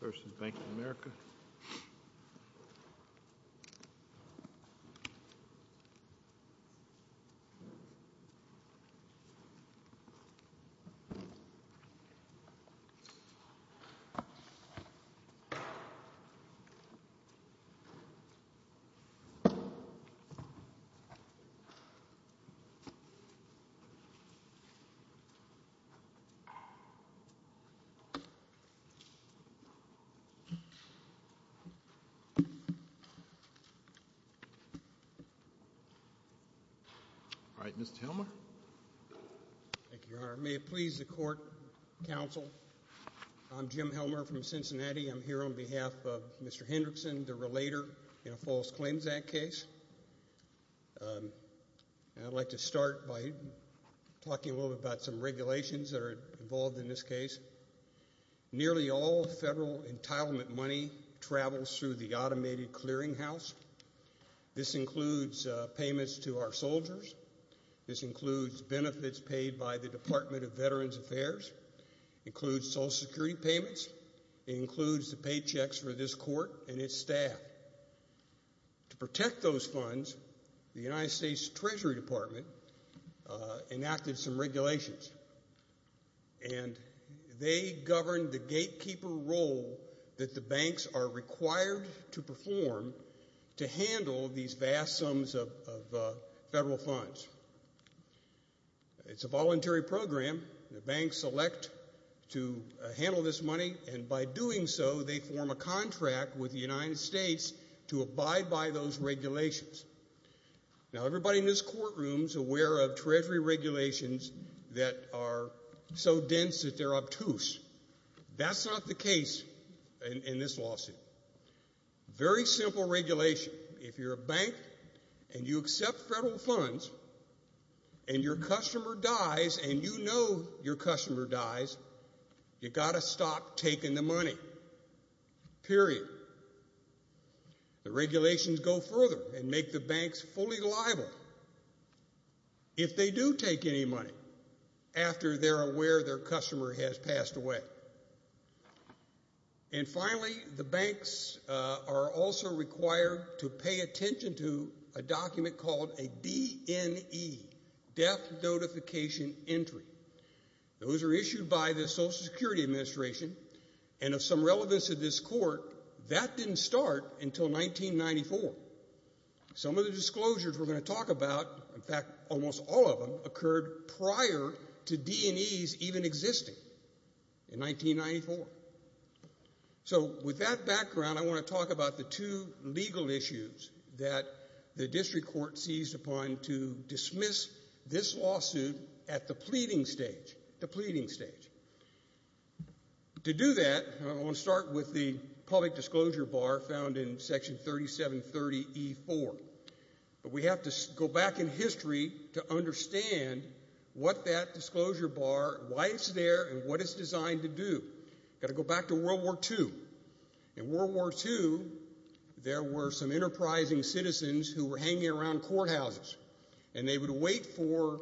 v. Bank of America May it please the Court, Counsel. I'm Jim Helmer from Cincinnati. I'm here on behalf of Mr. Hendrickson, the relator in a false claims act case. I'd like to start by talking a little bit about some regulations that are involved in this case. Nearly all federal entitlement money travels through the automated clearinghouse. This includes payments to our soldiers. This includes benefits paid by the Department of Veterans Affairs. It includes Social Security payments. It includes the paychecks for this court and its staff. To do this, we have to abide by these regulations. And they govern the gatekeeper role that the banks are required to perform to handle these vast sums of federal funds. It's a voluntary program. The banks elect to handle this money, and by doing so, they form a contract with the United States to abide by those regulations. Now, everybody in this courtroom is aware of Treasury regulations that are so dense that they're obtuse. That's not the case in this lawsuit. Very simple regulation. If you're a bank and you accept federal funds, and your customer dies, and you know your customer dies, you got to stop taking the money, period. The regulations go further and make the banks fully liable if they do take any money after they're aware their customer has passed away. And finally, the banks are also required to pay attention to a document called a DNE, death notification entry. Those are issued by the Social Security Administration, and of some relevance to this court, that didn't start until 1994. Some of the disclosures we're going to talk about, in fact, almost all of them, occurred prior to DNEs even existing in 1994. So with that background, I want to talk about the two legal issues that the district court seized upon to dismiss this lawsuit at the pleading stage. To do that, I want to start with the public disclosure bar found in section 3730E4. But we have to go back in history to understand what that disclosure bar, why it's there, and what it's designed to do. Got to go back to World War II. In World War II, there were some enterprising citizens who were hanging around courthouses, and they would wait for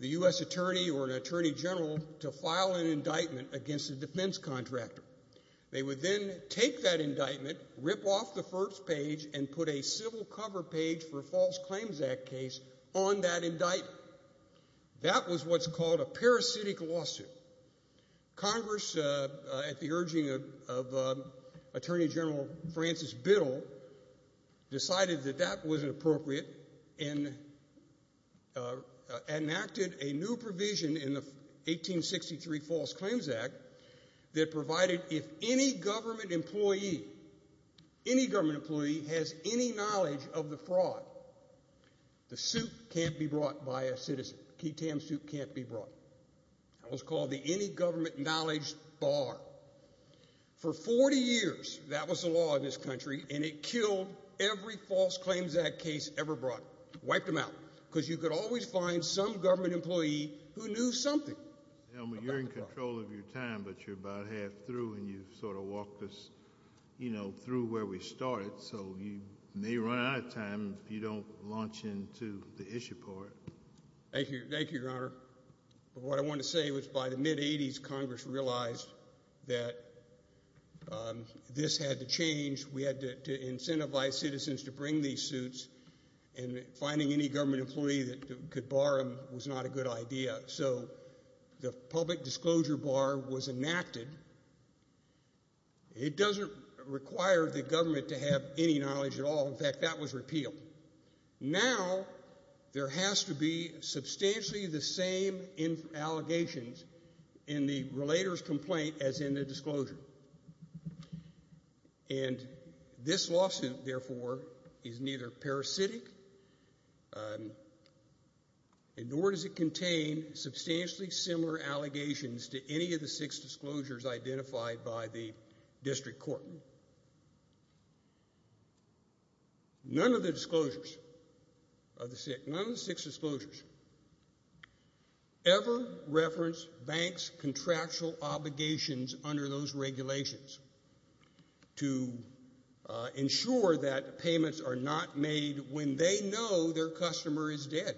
the U.S. attorney or an attorney general to file an indictment against a defense contractor. They would then take that indictment, rip off the first page, and put a civil cover page for a False Claims Act case on that indictment. That was what's called a parasitic lawsuit. Congress, at the urging of Attorney General Francis Biddle, decided that that wasn't appropriate and enacted a new provision in the 1863 False Claims Act that provided if any government employee, any government employee, has any knowledge of the fraud, the suit can't be brought by a citizen. Key Tam suit can't be brought. That was called the Any Government Knowledge Bar. For 40 years, that was the law in this country, and it killed every False Claims Act case ever brought. Wiped them out, because you could always find some government employee who knew something about the fraud. You're in control of your time, but you're about half through, and you've sort of walked us, you know, through where we started, so you may run out of time if you don't launch into the issue part. Thank you. Thank you, Your Honor. What I wanted to say was by the mid-80s, Congress realized that this had to change. We had to incentivize citizens to bring these suits, and finding any government employee that could bar them was not a good idea, so the Public Disclosure Bar was enacted. It doesn't require the government to have any knowledge at all. In fact, that was repealed. Now, there has to be substantially the same allegations in the relator's complaint as in the disclosure, and this lawsuit, therefore, is neither parasitic, nor does it contain substantially similar allegations to any of the six disclosures identified by the district court. None of the disclosures of the six, none of the six disclosures ever reference banks' contractual obligations under those regulations to ensure that payments are not made when they know their customer is dead.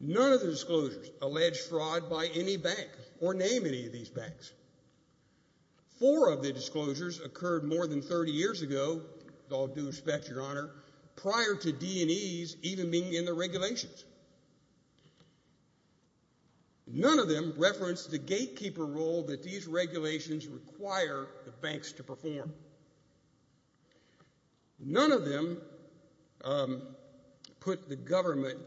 None of the disclosures allege fraud by any bank or name any of these banks. Four of the disclosures occurred more than 30 years ago, with all due respect, Your Honor, prior to D&Es even being in the regulations. None of them reference the gatekeeper role that these regulations require the banks to perform. None of them put the government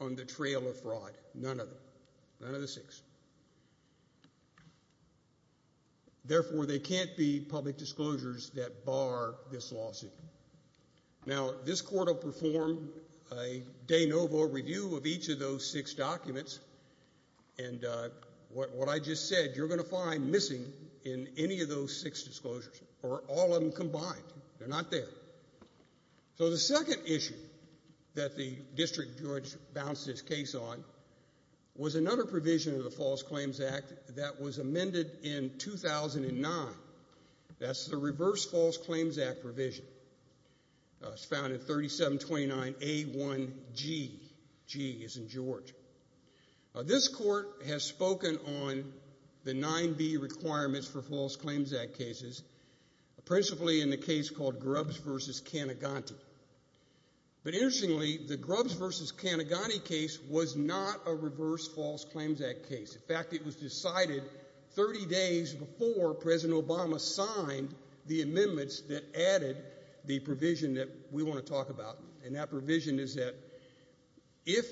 on the trail of fraud, none of them, none of the six. Therefore, they can't be public disclosures that bar this lawsuit. Now, this court will perform a de novo review of each of those six documents, and what I just said, you're going to find missing in any of those six disclosures, or all of them combined. They're not there. So the second issue that the district judge bounced this case on was another provision of the False Claims Act that was amended in 2009. That's the Reverse False Claims Act provision. It's found in 3729A1G. G as in George. Now, this court has spoken on the 9B requirements for False Claims Act cases, principally in the case called Grubbs v. Cantiganti. But interestingly, the Grubbs v. Cantiganti case was not a Reverse False Claims Act case. In fact, it was decided 30 days before President Obama signed the amendments that added the provision that we want to talk about. And that provision is that if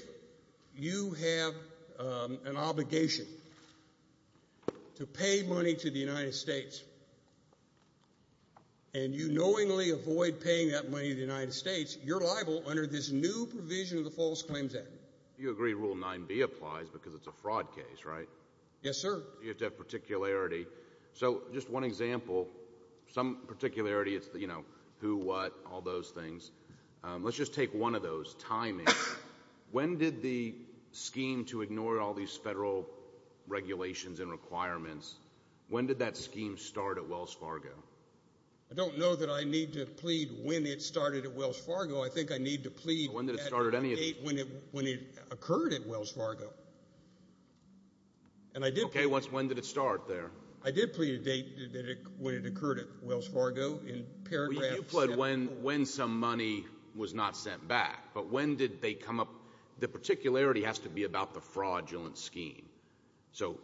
you have an obligation to pay money to the United States and you knowingly avoid paying that money to the United States, you're liable under this new provision of the False Claims Act. You agree Rule 9B applies because it's a fraud case, right? Yes, sir. You have to have particularity. So just one example, some particularity, it's, you know, who, what, all those things. Let's just take one of those, timing. When did the scheme to ignore all these federal regulations and requirements, when did that scheme start at Wells Fargo? I don't know that I need to plead when it started at Wells Fargo. I think I need to plead at a date when it occurred at Wells Fargo. Okay, when did it start there? I did plead a date when it occurred at Wells Fargo in paragraphs. Well, you pled when some money was not sent back. But when did they come up? The particularity has to be about the fraudulent scheme. So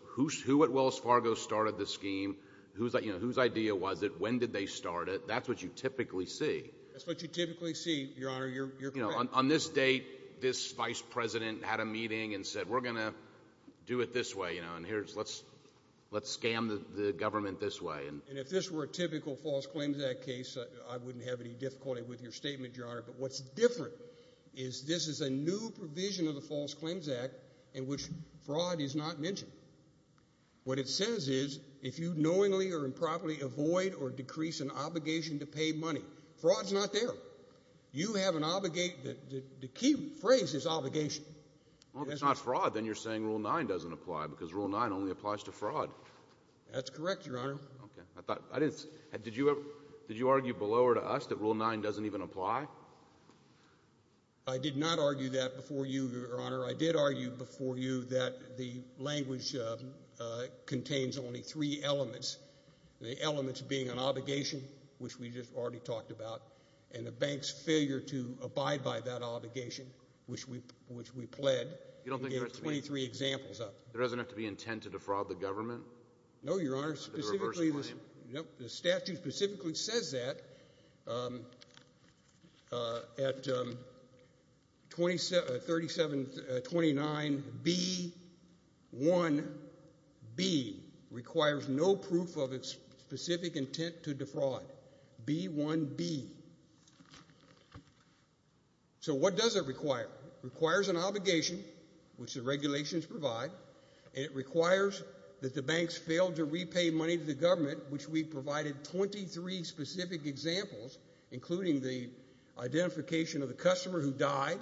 who at Wells Fargo started the scheme? Whose idea was it? When did they start it? That's what you typically see. That's what you typically see, Your Honor, you're correct. On this date, this vice president had a meeting and said, we're going to do it this way, you know, and here's, let's, let's scam the government this way. And if this were a typical False Claims Act case, I wouldn't have any difficulty with your statement, Your Honor. But what's different is this is a new provision of the False Claims Act in which fraud is not mentioned. What it says is, if you knowingly or improperly avoid or decrease an obligation to pay money, fraud's not there. You have an obligate, the key phrase is obligation. Well, if it's not fraud, then you're saying Rule 9 doesn't apply because Rule 9 only applies to fraud. That's correct, Your Honor. Okay, I thought, I didn't, did you ever, did you argue below or to us that Rule 9 doesn't even apply? I did not argue that before you, Your Honor. I did argue before you that the language contains only three elements, the elements being an obligation, which we just already talked about, and the bank's failure to abide by that obligation, which we, which we pled. You don't think there are three? We gave 23 examples up. There doesn't have to be intent to defraud the government? No, Your Honor. Under the reverse claim? No, the statute specifically says that at 3729B1B requires no proof of its specific intent to defraud, B1B. So what does it require? It requires an obligation, which the regulations provide, and it requires that the banks fail to repay money to the government, which we provided 23 specific examples, including the identification of the customer who died,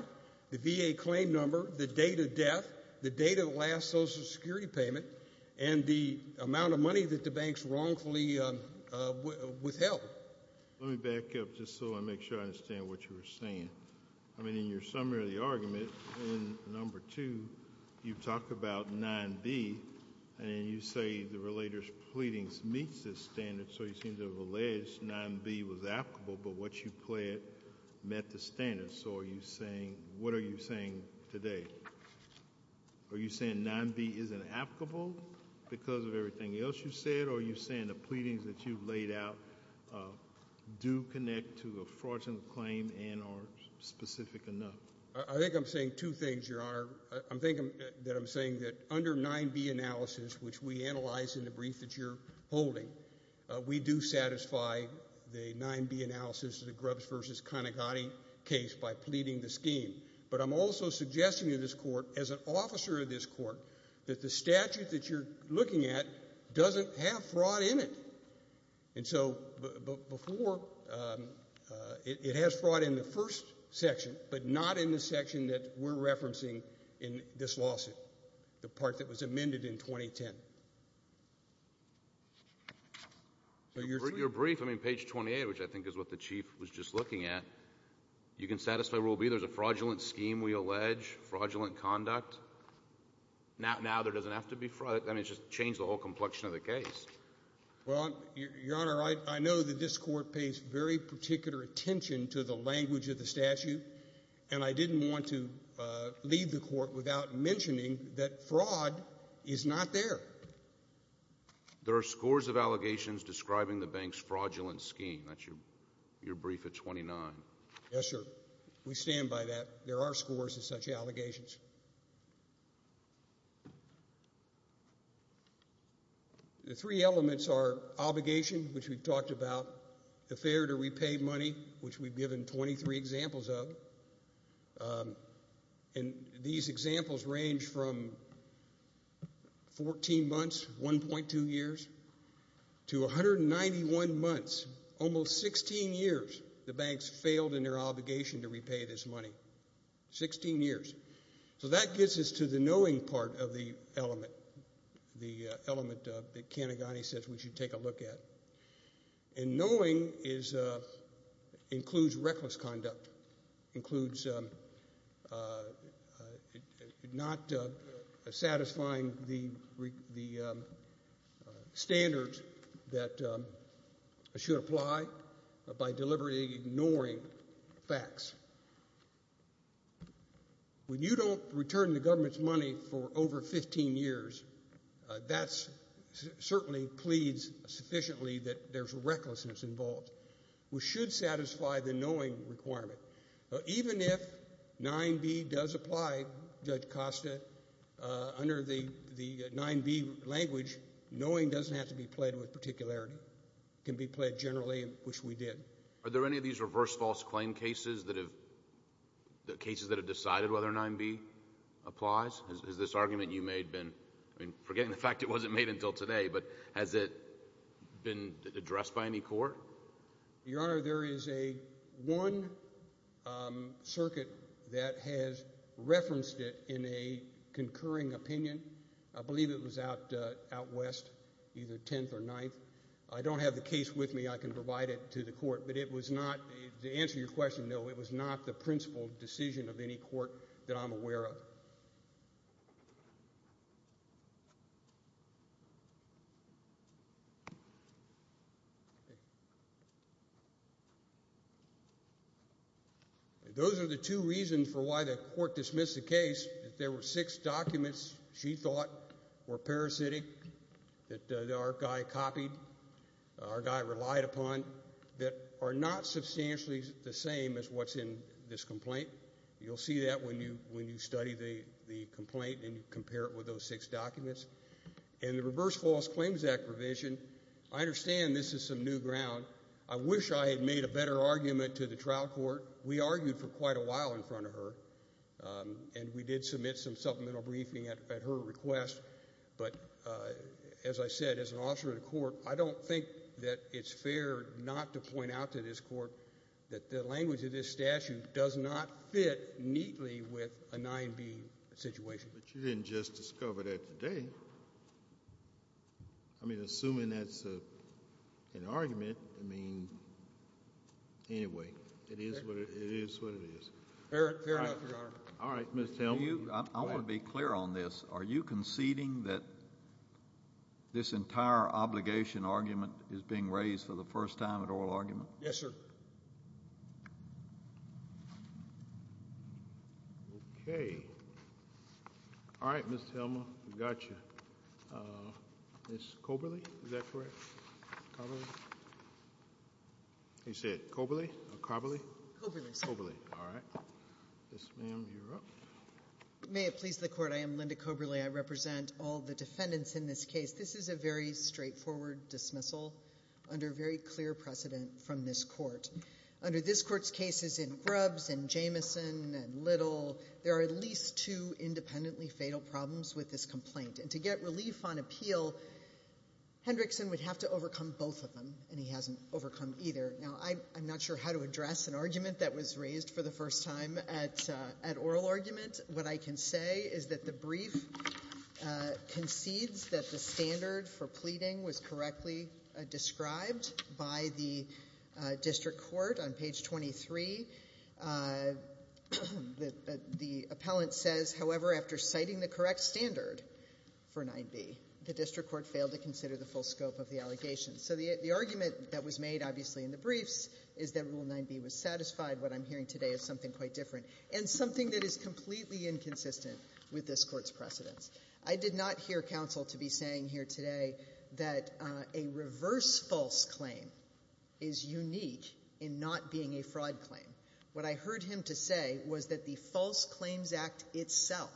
the VA claim number, the date of death, the date of the last Social Security payment, and the amount of money that the banks wrongfully withheld. Let me back up just so I make sure I understand what you were saying. I mean, in your summary of the argument, in number two, you talk about 9B, and you say the relator's pleadings meets this standard, so you seem to have alleged 9B was applicable, but what you pled met the standard. So are you saying, what are you saying today? Are you saying 9B isn't applicable because of everything else you said, or are you saying the pleadings that you've laid out do connect to a fraudulent claim and are specific enough? I think I'm saying two things, Your Honor. I'm thinking that I'm saying that under 9B analysis, which we analyzed in the brief that you're holding, we do satisfy the 9B analysis of the Grubbs v. Conigotti case by pleading the scheme, but I'm also suggesting to this Court, as an officer of this Court, that the statute that you're looking at doesn't have fraud in it. And so before, it has fraud in the first section, but not in the section that we're referencing in this lawsuit, the part that was amended in 2010. Your brief, I mean, page 28, which I think is what the Chief was just looking at, you can satisfy Rule B, there's a fraudulent scheme we allege, fraudulent conduct. Now there doesn't have to be fraud. I mean, it just changed the whole complexion of the case. Well, Your Honor, I know that this Court pays very particular attention to the language of the statute, and I didn't want to leave the Court without mentioning that fraud is not there. There are scores of allegations describing the bank's fraudulent scheme. That's your brief at 29. Yes, sir. We stand by that. There are scores of such allegations. The three elements are obligation, which we've talked about, the failure to repay money, which we've given 23 examples of. And these examples range from 14 months, 1.2 years, to 191 months, almost 16 years, the banks failed in their obligation to repay this money. Sixteen years. So that gets us to the knowing part of the element, the element that Canegani says we should take a look at. And knowing includes reckless conduct, includes not satisfying the standards that should apply by deliberately ignoring facts. When you don't return the government's money for over 15 years, that certainly pleads sufficiently that there's recklessness involved. We should satisfy the knowing requirement. Even if 9b does apply, Judge Costa, under the 9b language, knowing doesn't have to be played with particularity. It can be played generally, which we did. Are there any of these reverse false claim cases that have, cases that have decided whether 9b applies? Has this argument you made been, I mean, forgetting the fact it wasn't made until today, but has it been addressed by any court? Your Honor, there is a one circuit that has referenced it in a concurring opinion. I believe it was out west, either 10th or 9th. I don't have the case with me. I can provide it to the court. But it was not, to answer your question, no, it was not the principal decision of any court that I'm aware of. Those are the two reasons for why the court dismissed the case, that there were six documents she thought were parasitic that our guy copied, our guy relied upon, that are not substantially the same as what's in this complaint. You'll see that when you study the complaint and you compare it with those six documents. And the Reverse False Claims Act provision, I understand this is some new ground. I wish I had made a better argument to the trial court. We argued for quite a while in front of her. And we did submit some supplemental briefing at her request. But as I said, as an officer of the court, I don't think that it's fair not to point out to this court that the language of this statute does not fit neatly with a 9B situation. But you didn't just discover that today. I mean, assuming that's an argument, I mean, anyway, it is what it is. Fair enough, Your Honor. All right, Ms. Thelma. I want to be clear on this. Are you conceding that this entire obligation argument is being raised for the first time at oral argument? Yes, sir. Okay. All right, Ms. Thelma, we got you. Ms. Coberly, is that correct? You said Coberly or Carberly? Coberly, Mr. Chairman. This ma'am, you're up. May it please the Court, I am Linda Coberly. I represent all the defendants in this case. This is a very straightforward dismissal under very clear precedent from this court. Under this court's cases in Grubbs and Jamison and Little, there are at least two independently fatal problems with this complaint. And to get relief on appeal, Hendrickson would have to overcome both of them, and he hasn't overcome either. Now, I'm not sure how to address an at-oral argument. What I can say is that the brief concedes that the standard for pleading was correctly described by the district court on page 23. The appellant says, however, after citing the correct standard for 9b, the district court failed to consider the full scope of the allegation. So the argument that was made, obviously, in the briefs is that Rule 9b was and something that is completely inconsistent with this court's precedents. I did not hear counsel to be saying here today that a reverse false claim is unique in not being a fraud claim. What I heard him to say was that the False Claims Act itself,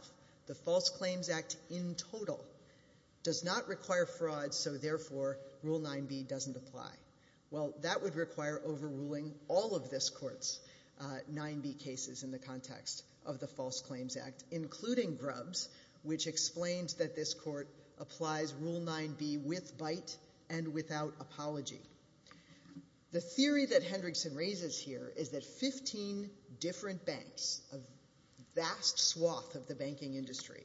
the False Claims Act in total, does not require fraud, so therefore, Rule 9b doesn't apply. Well, that would require overruling all of this court's 9b cases in the context of the False Claims Act, including Grubbs, which explains that this court applies Rule 9b with bite and without apology. The theory that Hendrickson raises here is that 15 different banks, a vast swath of the banking industry,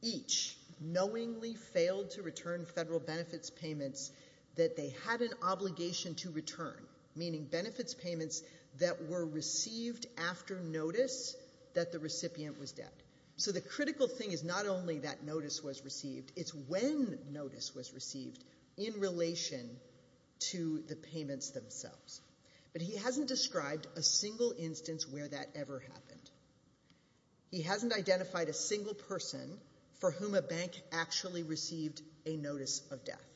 each knowingly failed to return federal benefits payments that they had an obligation to that were received after notice that the recipient was dead. So the critical thing is not only that notice was received, it's when notice was received in relation to the payments themselves. But he hasn't described a single instance where that ever happened. He hasn't identified a single person for whom a bank actually received a notice of death.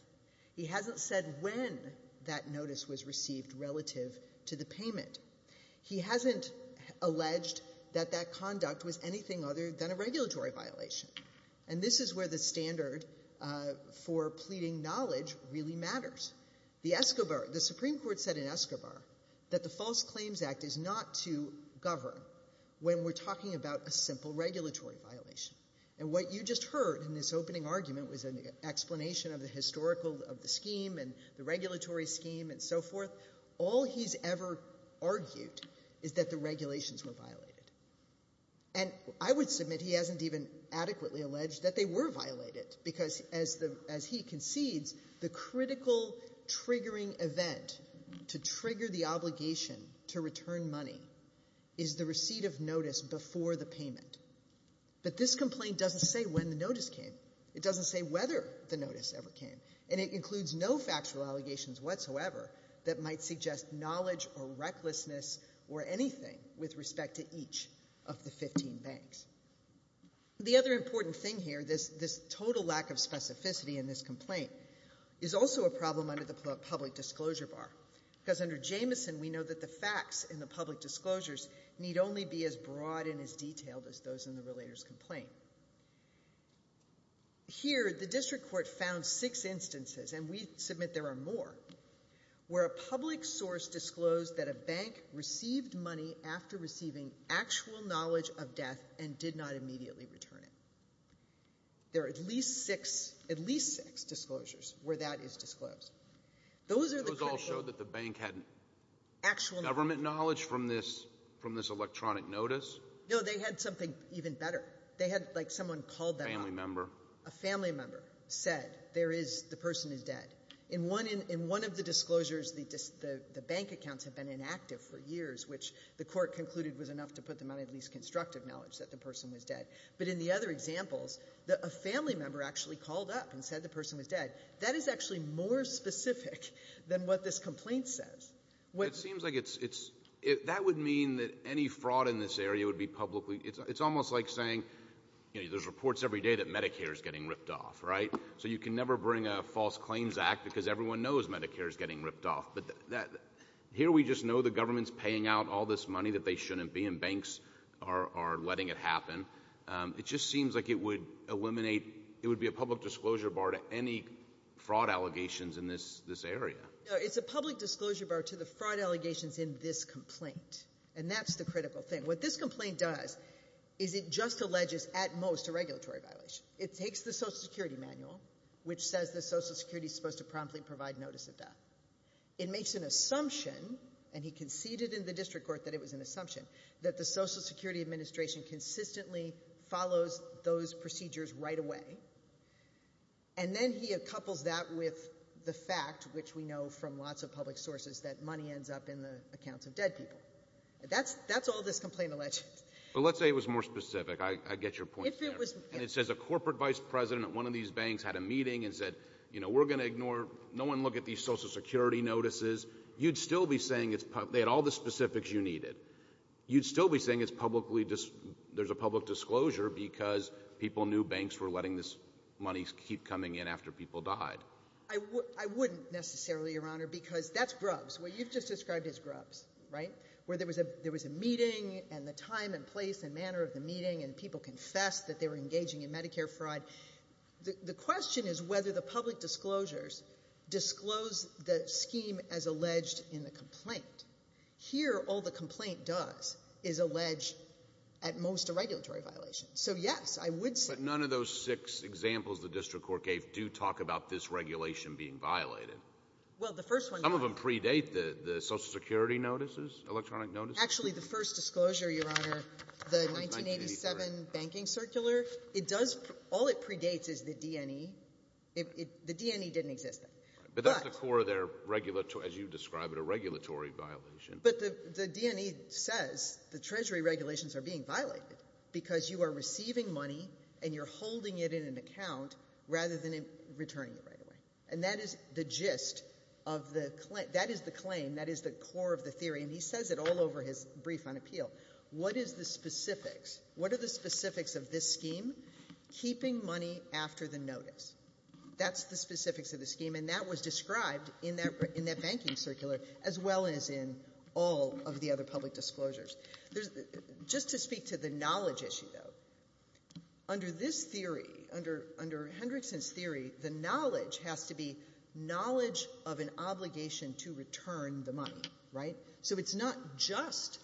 He hasn't said when that notice was received relative to the payment. He hasn't alleged that that conduct was anything other than a regulatory violation. And this is where the standard for pleading knowledge really matters. The Supreme Court said in Escobar that the False Claims Act is not to govern when we're talking about a simple regulatory violation. And what you just heard in this opening argument was an explanation of the scheme and the regulatory scheme and so forth. All he's ever argued is that the regulations were violated. And I would submit he hasn't even adequately alleged that they were violated, because as he concedes, the critical triggering event to trigger the obligation to return money is the receipt of notice before the payment. But this complaint doesn't say when the notice came. It doesn't say whether the notice ever came. And it includes no factual allegations whatsoever that might suggest knowledge or recklessness or anything with respect to each of the 15 banks. The other important thing here, this total lack of specificity in this complaint, is also a problem under the public disclosure bar. Because under Jamison, we know that the facts in the public disclosures need only be as broad and as detailed as those in the relator's claim. Here, the district court found six instances, and we submit there are more, where a public source disclosed that a bank received money after receiving actual knowledge of death and did not immediately return it. There are at least six — at least six disclosures where that is disclosed. Those are the critical — But those all show that the bank had actual government knowledge from this — from this electronic notice? No. They had something even better. They had, like, someone called them up. Family member. A family member said there is — the person is dead. In one — in one of the disclosures, the bank accounts have been inactive for years, which the court concluded was enough to put them on at least constructive knowledge that the person was dead. But in the other examples, a family member actually called up and said the person was dead. That is actually more specific than what this complaint says. It seems like it's — that would mean that any fraud in this area would be publicly — it's almost like saying, you know, there's reports every day that Medicare is getting ripped off, right? So you can never bring a false claims act because everyone knows Medicare is getting ripped off. But that — here, we just know the government's paying out all this money that they shouldn't be, and banks are letting it happen. It just seems like it would eliminate — it would be a public disclosure bar to any fraud allegations in this area. No, it's a public disclosure bar to the fraud allegations in this complaint. And that's the critical thing. What this complaint does is it just alleges, at most, a regulatory violation. It takes the Social Security manual, which says that Social Security is supposed to promptly provide notice of death. It makes an assumption — and he conceded in the district court that it was an assumption — that the Social Security administration consistently follows those procedures right away. And then he couples that with the fact, which we know from lots of public sources, that money ends up in the accounts of dead people. That's all this complaint alleges. But let's say it was more specific. I get your point there. If it was — And it says a corporate vice president at one of these banks had a meeting and said, you know, we're going to ignore — no one look at these Social Security notices. You'd still be saying it's — they had all the specifics you needed. You'd still be saying it's publicly — there's a public disclosure because people knew banks were letting this money keep coming in after people died. I wouldn't necessarily, Your Honor, because that's grubs. What you've just described is grubs, right? Where there was a — there was a meeting and the time and place and manner of the meeting and people confessed that they were engaging in Medicare fraud. The question is whether the public disclosures disclose the scheme as alleged in the complaint. Here, all the complaint does is allege at most a regulatory violation. So, yes, I would say — None of those six examples the district court gave do talk about this regulation being violated. Well, the first one — Some of them predate the Social Security notices, electronic notices. Actually, the first disclosure, Your Honor, the 1987 banking circular, it does — all it predates is the DNE. The DNE didn't exist then. But that's the core of their — as you describe it, a regulatory violation. But the DNE says the Treasury regulations are being violated because you are receiving money and you're holding it in an account rather than returning it right away. And that is the gist of the — that is the claim. That is the core of the theory. And he says it all over his brief on appeal. What is the specifics? What are the specifics of this scheme? Keeping money after the notice. That's the specifics of the scheme. And that was described in that — in that banking circular as well as in all of the other public disclosures. There's — just to speak to the knowledge issue, though, under this theory, under Hendrickson's theory, the knowledge has to be knowledge of an obligation to return the money, right? So it's not just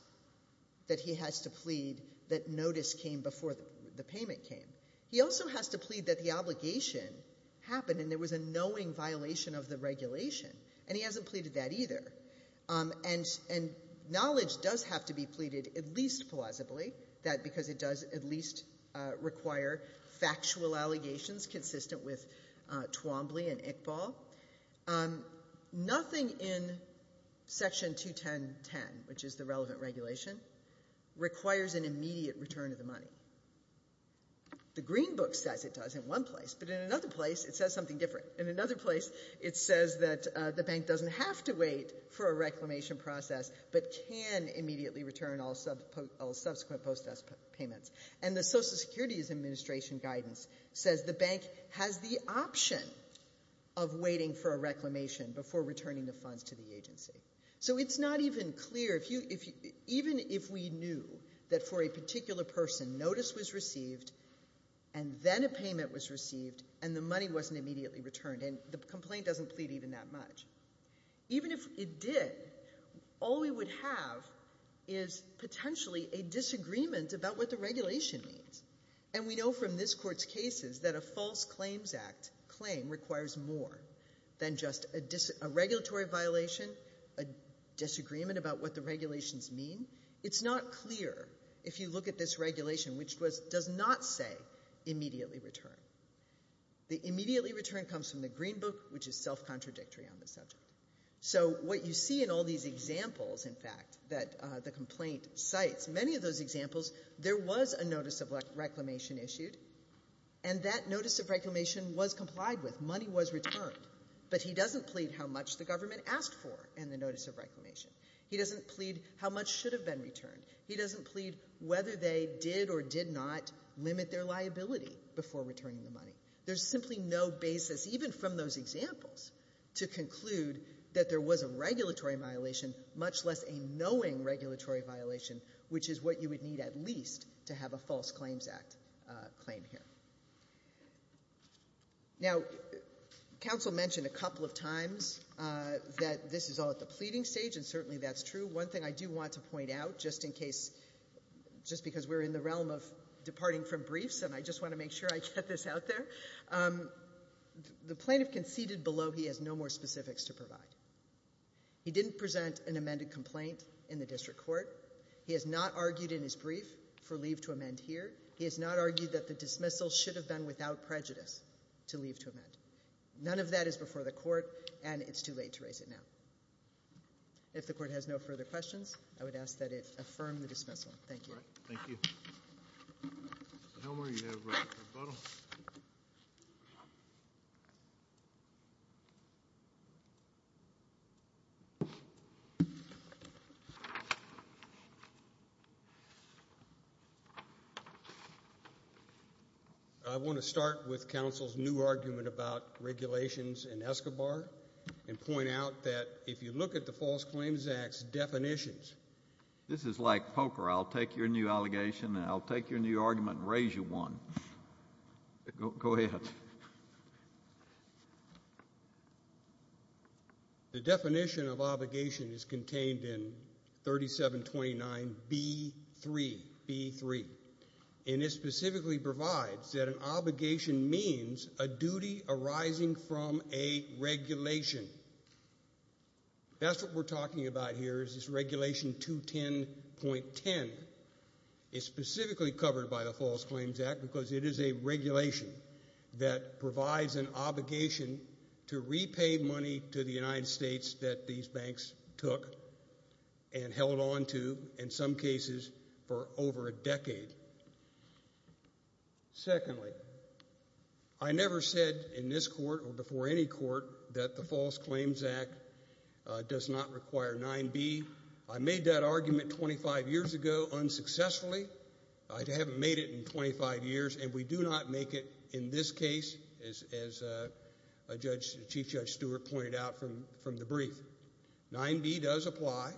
that he has to plead that notice came before the payment came. He also has to plead that the obligation happened and there was a knowing violation of the regulation. And he hasn't pleaded that either. And knowledge does have to be pleaded at least plausibly, because it does at least require factual allegations consistent with Twombly and Iqbal. Nothing in Section 21010, which is the relevant regulation, requires an immediate return of the money. The Green Book says it does in one place, but in another place it says something different. In another place it says that the bank doesn't have to wait for a reclamation process but can immediately return all subsequent post-death payments. And the Social Security Administration guidance says the bank has the option of waiting for a reclamation before returning the funds to the agency. So it's not even clear if you — even if we knew that for a particular person notice was received and then a payment was received and the money wasn't immediately returned and the complaint doesn't plead even that much. Even if it did, all we would have is potentially a disagreement about what the regulation means. And we know from this Court's cases that a false claims act claim requires more than just a regulatory violation, a disagreement about what the regulations mean. It's not clear if you look at this regulation, which does not say immediately return. The immediately return comes from the Green Book, which is self-contradictory on the subject. So what you see in all these examples, in fact, that the complaint cites, many of those examples, there was a notice of reclamation issued and that notice of reclamation was complied with. Money was returned. But he doesn't plead how much the government asked for and the notice of reclamation. He doesn't plead how much should have been returned. He doesn't plead whether they did or did not limit their liability before returning the money. There's simply no basis, even from those examples, to conclude that there was a regulatory violation, much less a knowing regulatory violation, which is what you would need at least to have a false claims act claim here. Now, counsel mentioned a couple of times that this is all at the pleading stage, and certainly that's true. One thing I do want to point out, just in case, just because we're in the realm of departing from briefs and I just want to make sure I get this out there, the plaintiff conceded below he has no more specifics to provide. He didn't present an amended complaint in the He has not argued that the dismissal should have been without prejudice to leave to amend. None of that is before the court and it's too late to raise it now. If the court has no further questions, I would ask that it affirm the dismissal. Thank you. Thank you. I want to start with counsel's new argument about regulations and Escobar and point out that if you look at the False Claims Act's definitions, this is like poker. I'll take your new allegation and I'll take your new argument and raise you one. Go ahead. The definition of obligation is contained in 3729B3 and it specifically provides that an obligation means a duty arising from a regulation. That's what we're talking about here is this regulation 210.10. It's specifically covered by the False Claims Act because it is a regulation that provides an obligation to repay money to the and held onto in some cases for over a decade. Secondly, I never said in this court or before any court that the False Claims Act does not require 9B. I made that argument 25 years ago unsuccessfully. I haven't made it in 25 years and we do not make it in this case as Chief Judge pointed out from the brief. 9B does apply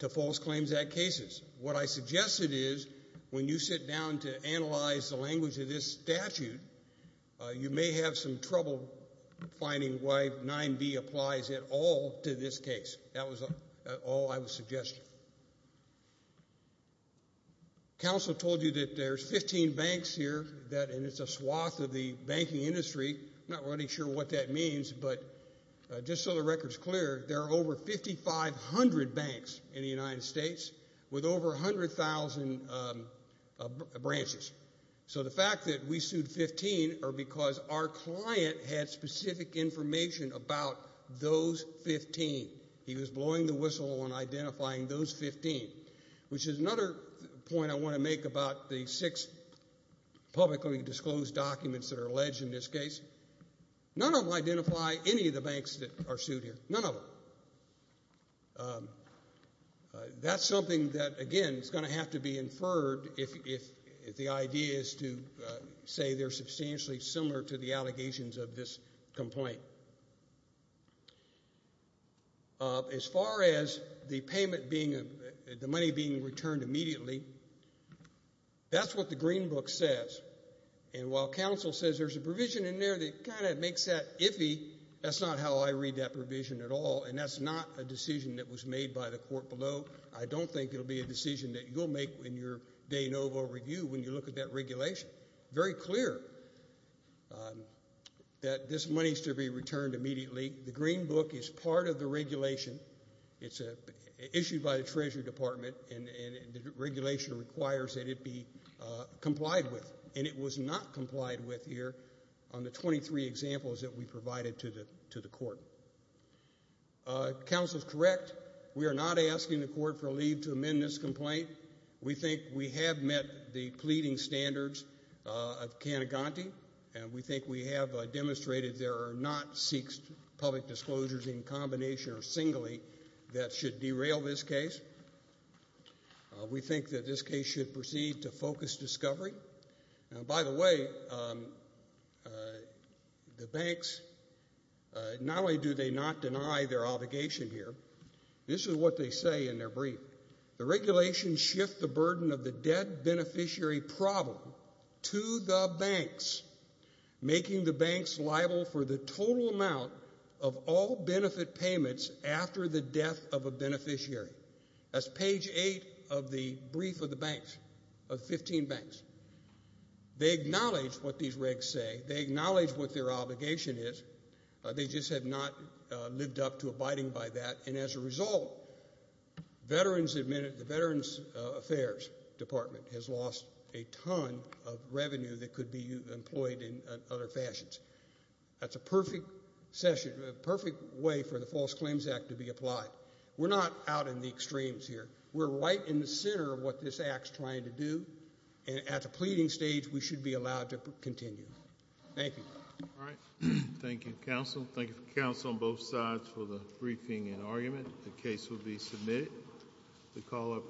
to False Claims Act cases. What I suggested is when you sit down to analyze the language of this statute, you may have some trouble finding why 9B applies at all to this case. That was all I would suggest. Counsel told you that there's 15 banks here and it's a swath of the banking industry. I'm not really sure what that means, but just so the record's clear, there are over 5500 banks in the United States with over 100,000 branches. So the fact that we sued 15 are because our client had specific information about those 15. He was blowing the whistle on identifying those 15 which is another point I want to make about the six publicly disclosed documents that are alleged in this case. None of them identify any of the banks that are sued here. None of them. That's something that again is going to have to be inferred if the idea is to say they're substantially similar to the allegations of this complaint. As far as the payment being the money being returned immediately, that's what the green book says. While counsel says there's a provision in there that kind of makes that iffy, that's not how I read that provision at all and that's not a decision that was made by the court below. I don't think it'll be a decision that you'll make in your de novo review when you look at that regulation. Very clear that this money is to be returned immediately. The green book is part of the regulation. It's issued by the Treasury Department and the regulation requires that it be complied with and it was not complied with here on the 23 examples that we provided to the court. Counsel is correct. We are not asking the court for leave to amend this complaint. We think we have met the pleading standards of Cannaganti and we think we have demonstrated there are not six public disclosures in combination or singly that should derail this case. We think that this case should proceed to focus discovery. By the way, the banks, not only do they not deny their obligation here, this is what they say in their brief. The regulations shift the burden of the debt beneficiary problem to the banks, making the banks liable for the total amount of all benefit payments after the death of a beneficiary. That's page 8 of the brief of the banks, of 15 banks. They acknowledge what these regs say. They acknowledge what their obligation is. They just have not lived up to abiding by that and as a result, the Veterans Affairs Department has lost a ton of revenue that could be employed in other fashions. That's a perfect way for the False Claims Act to be applied. We're not out in the extremes here. We're right in the center of what this act is trying to do and at the pleading stage, we should be allowed to continue. Thank you. Thank you, counsel. Thank you, counsel, on both sides for the briefing and argument. The case will be submitted.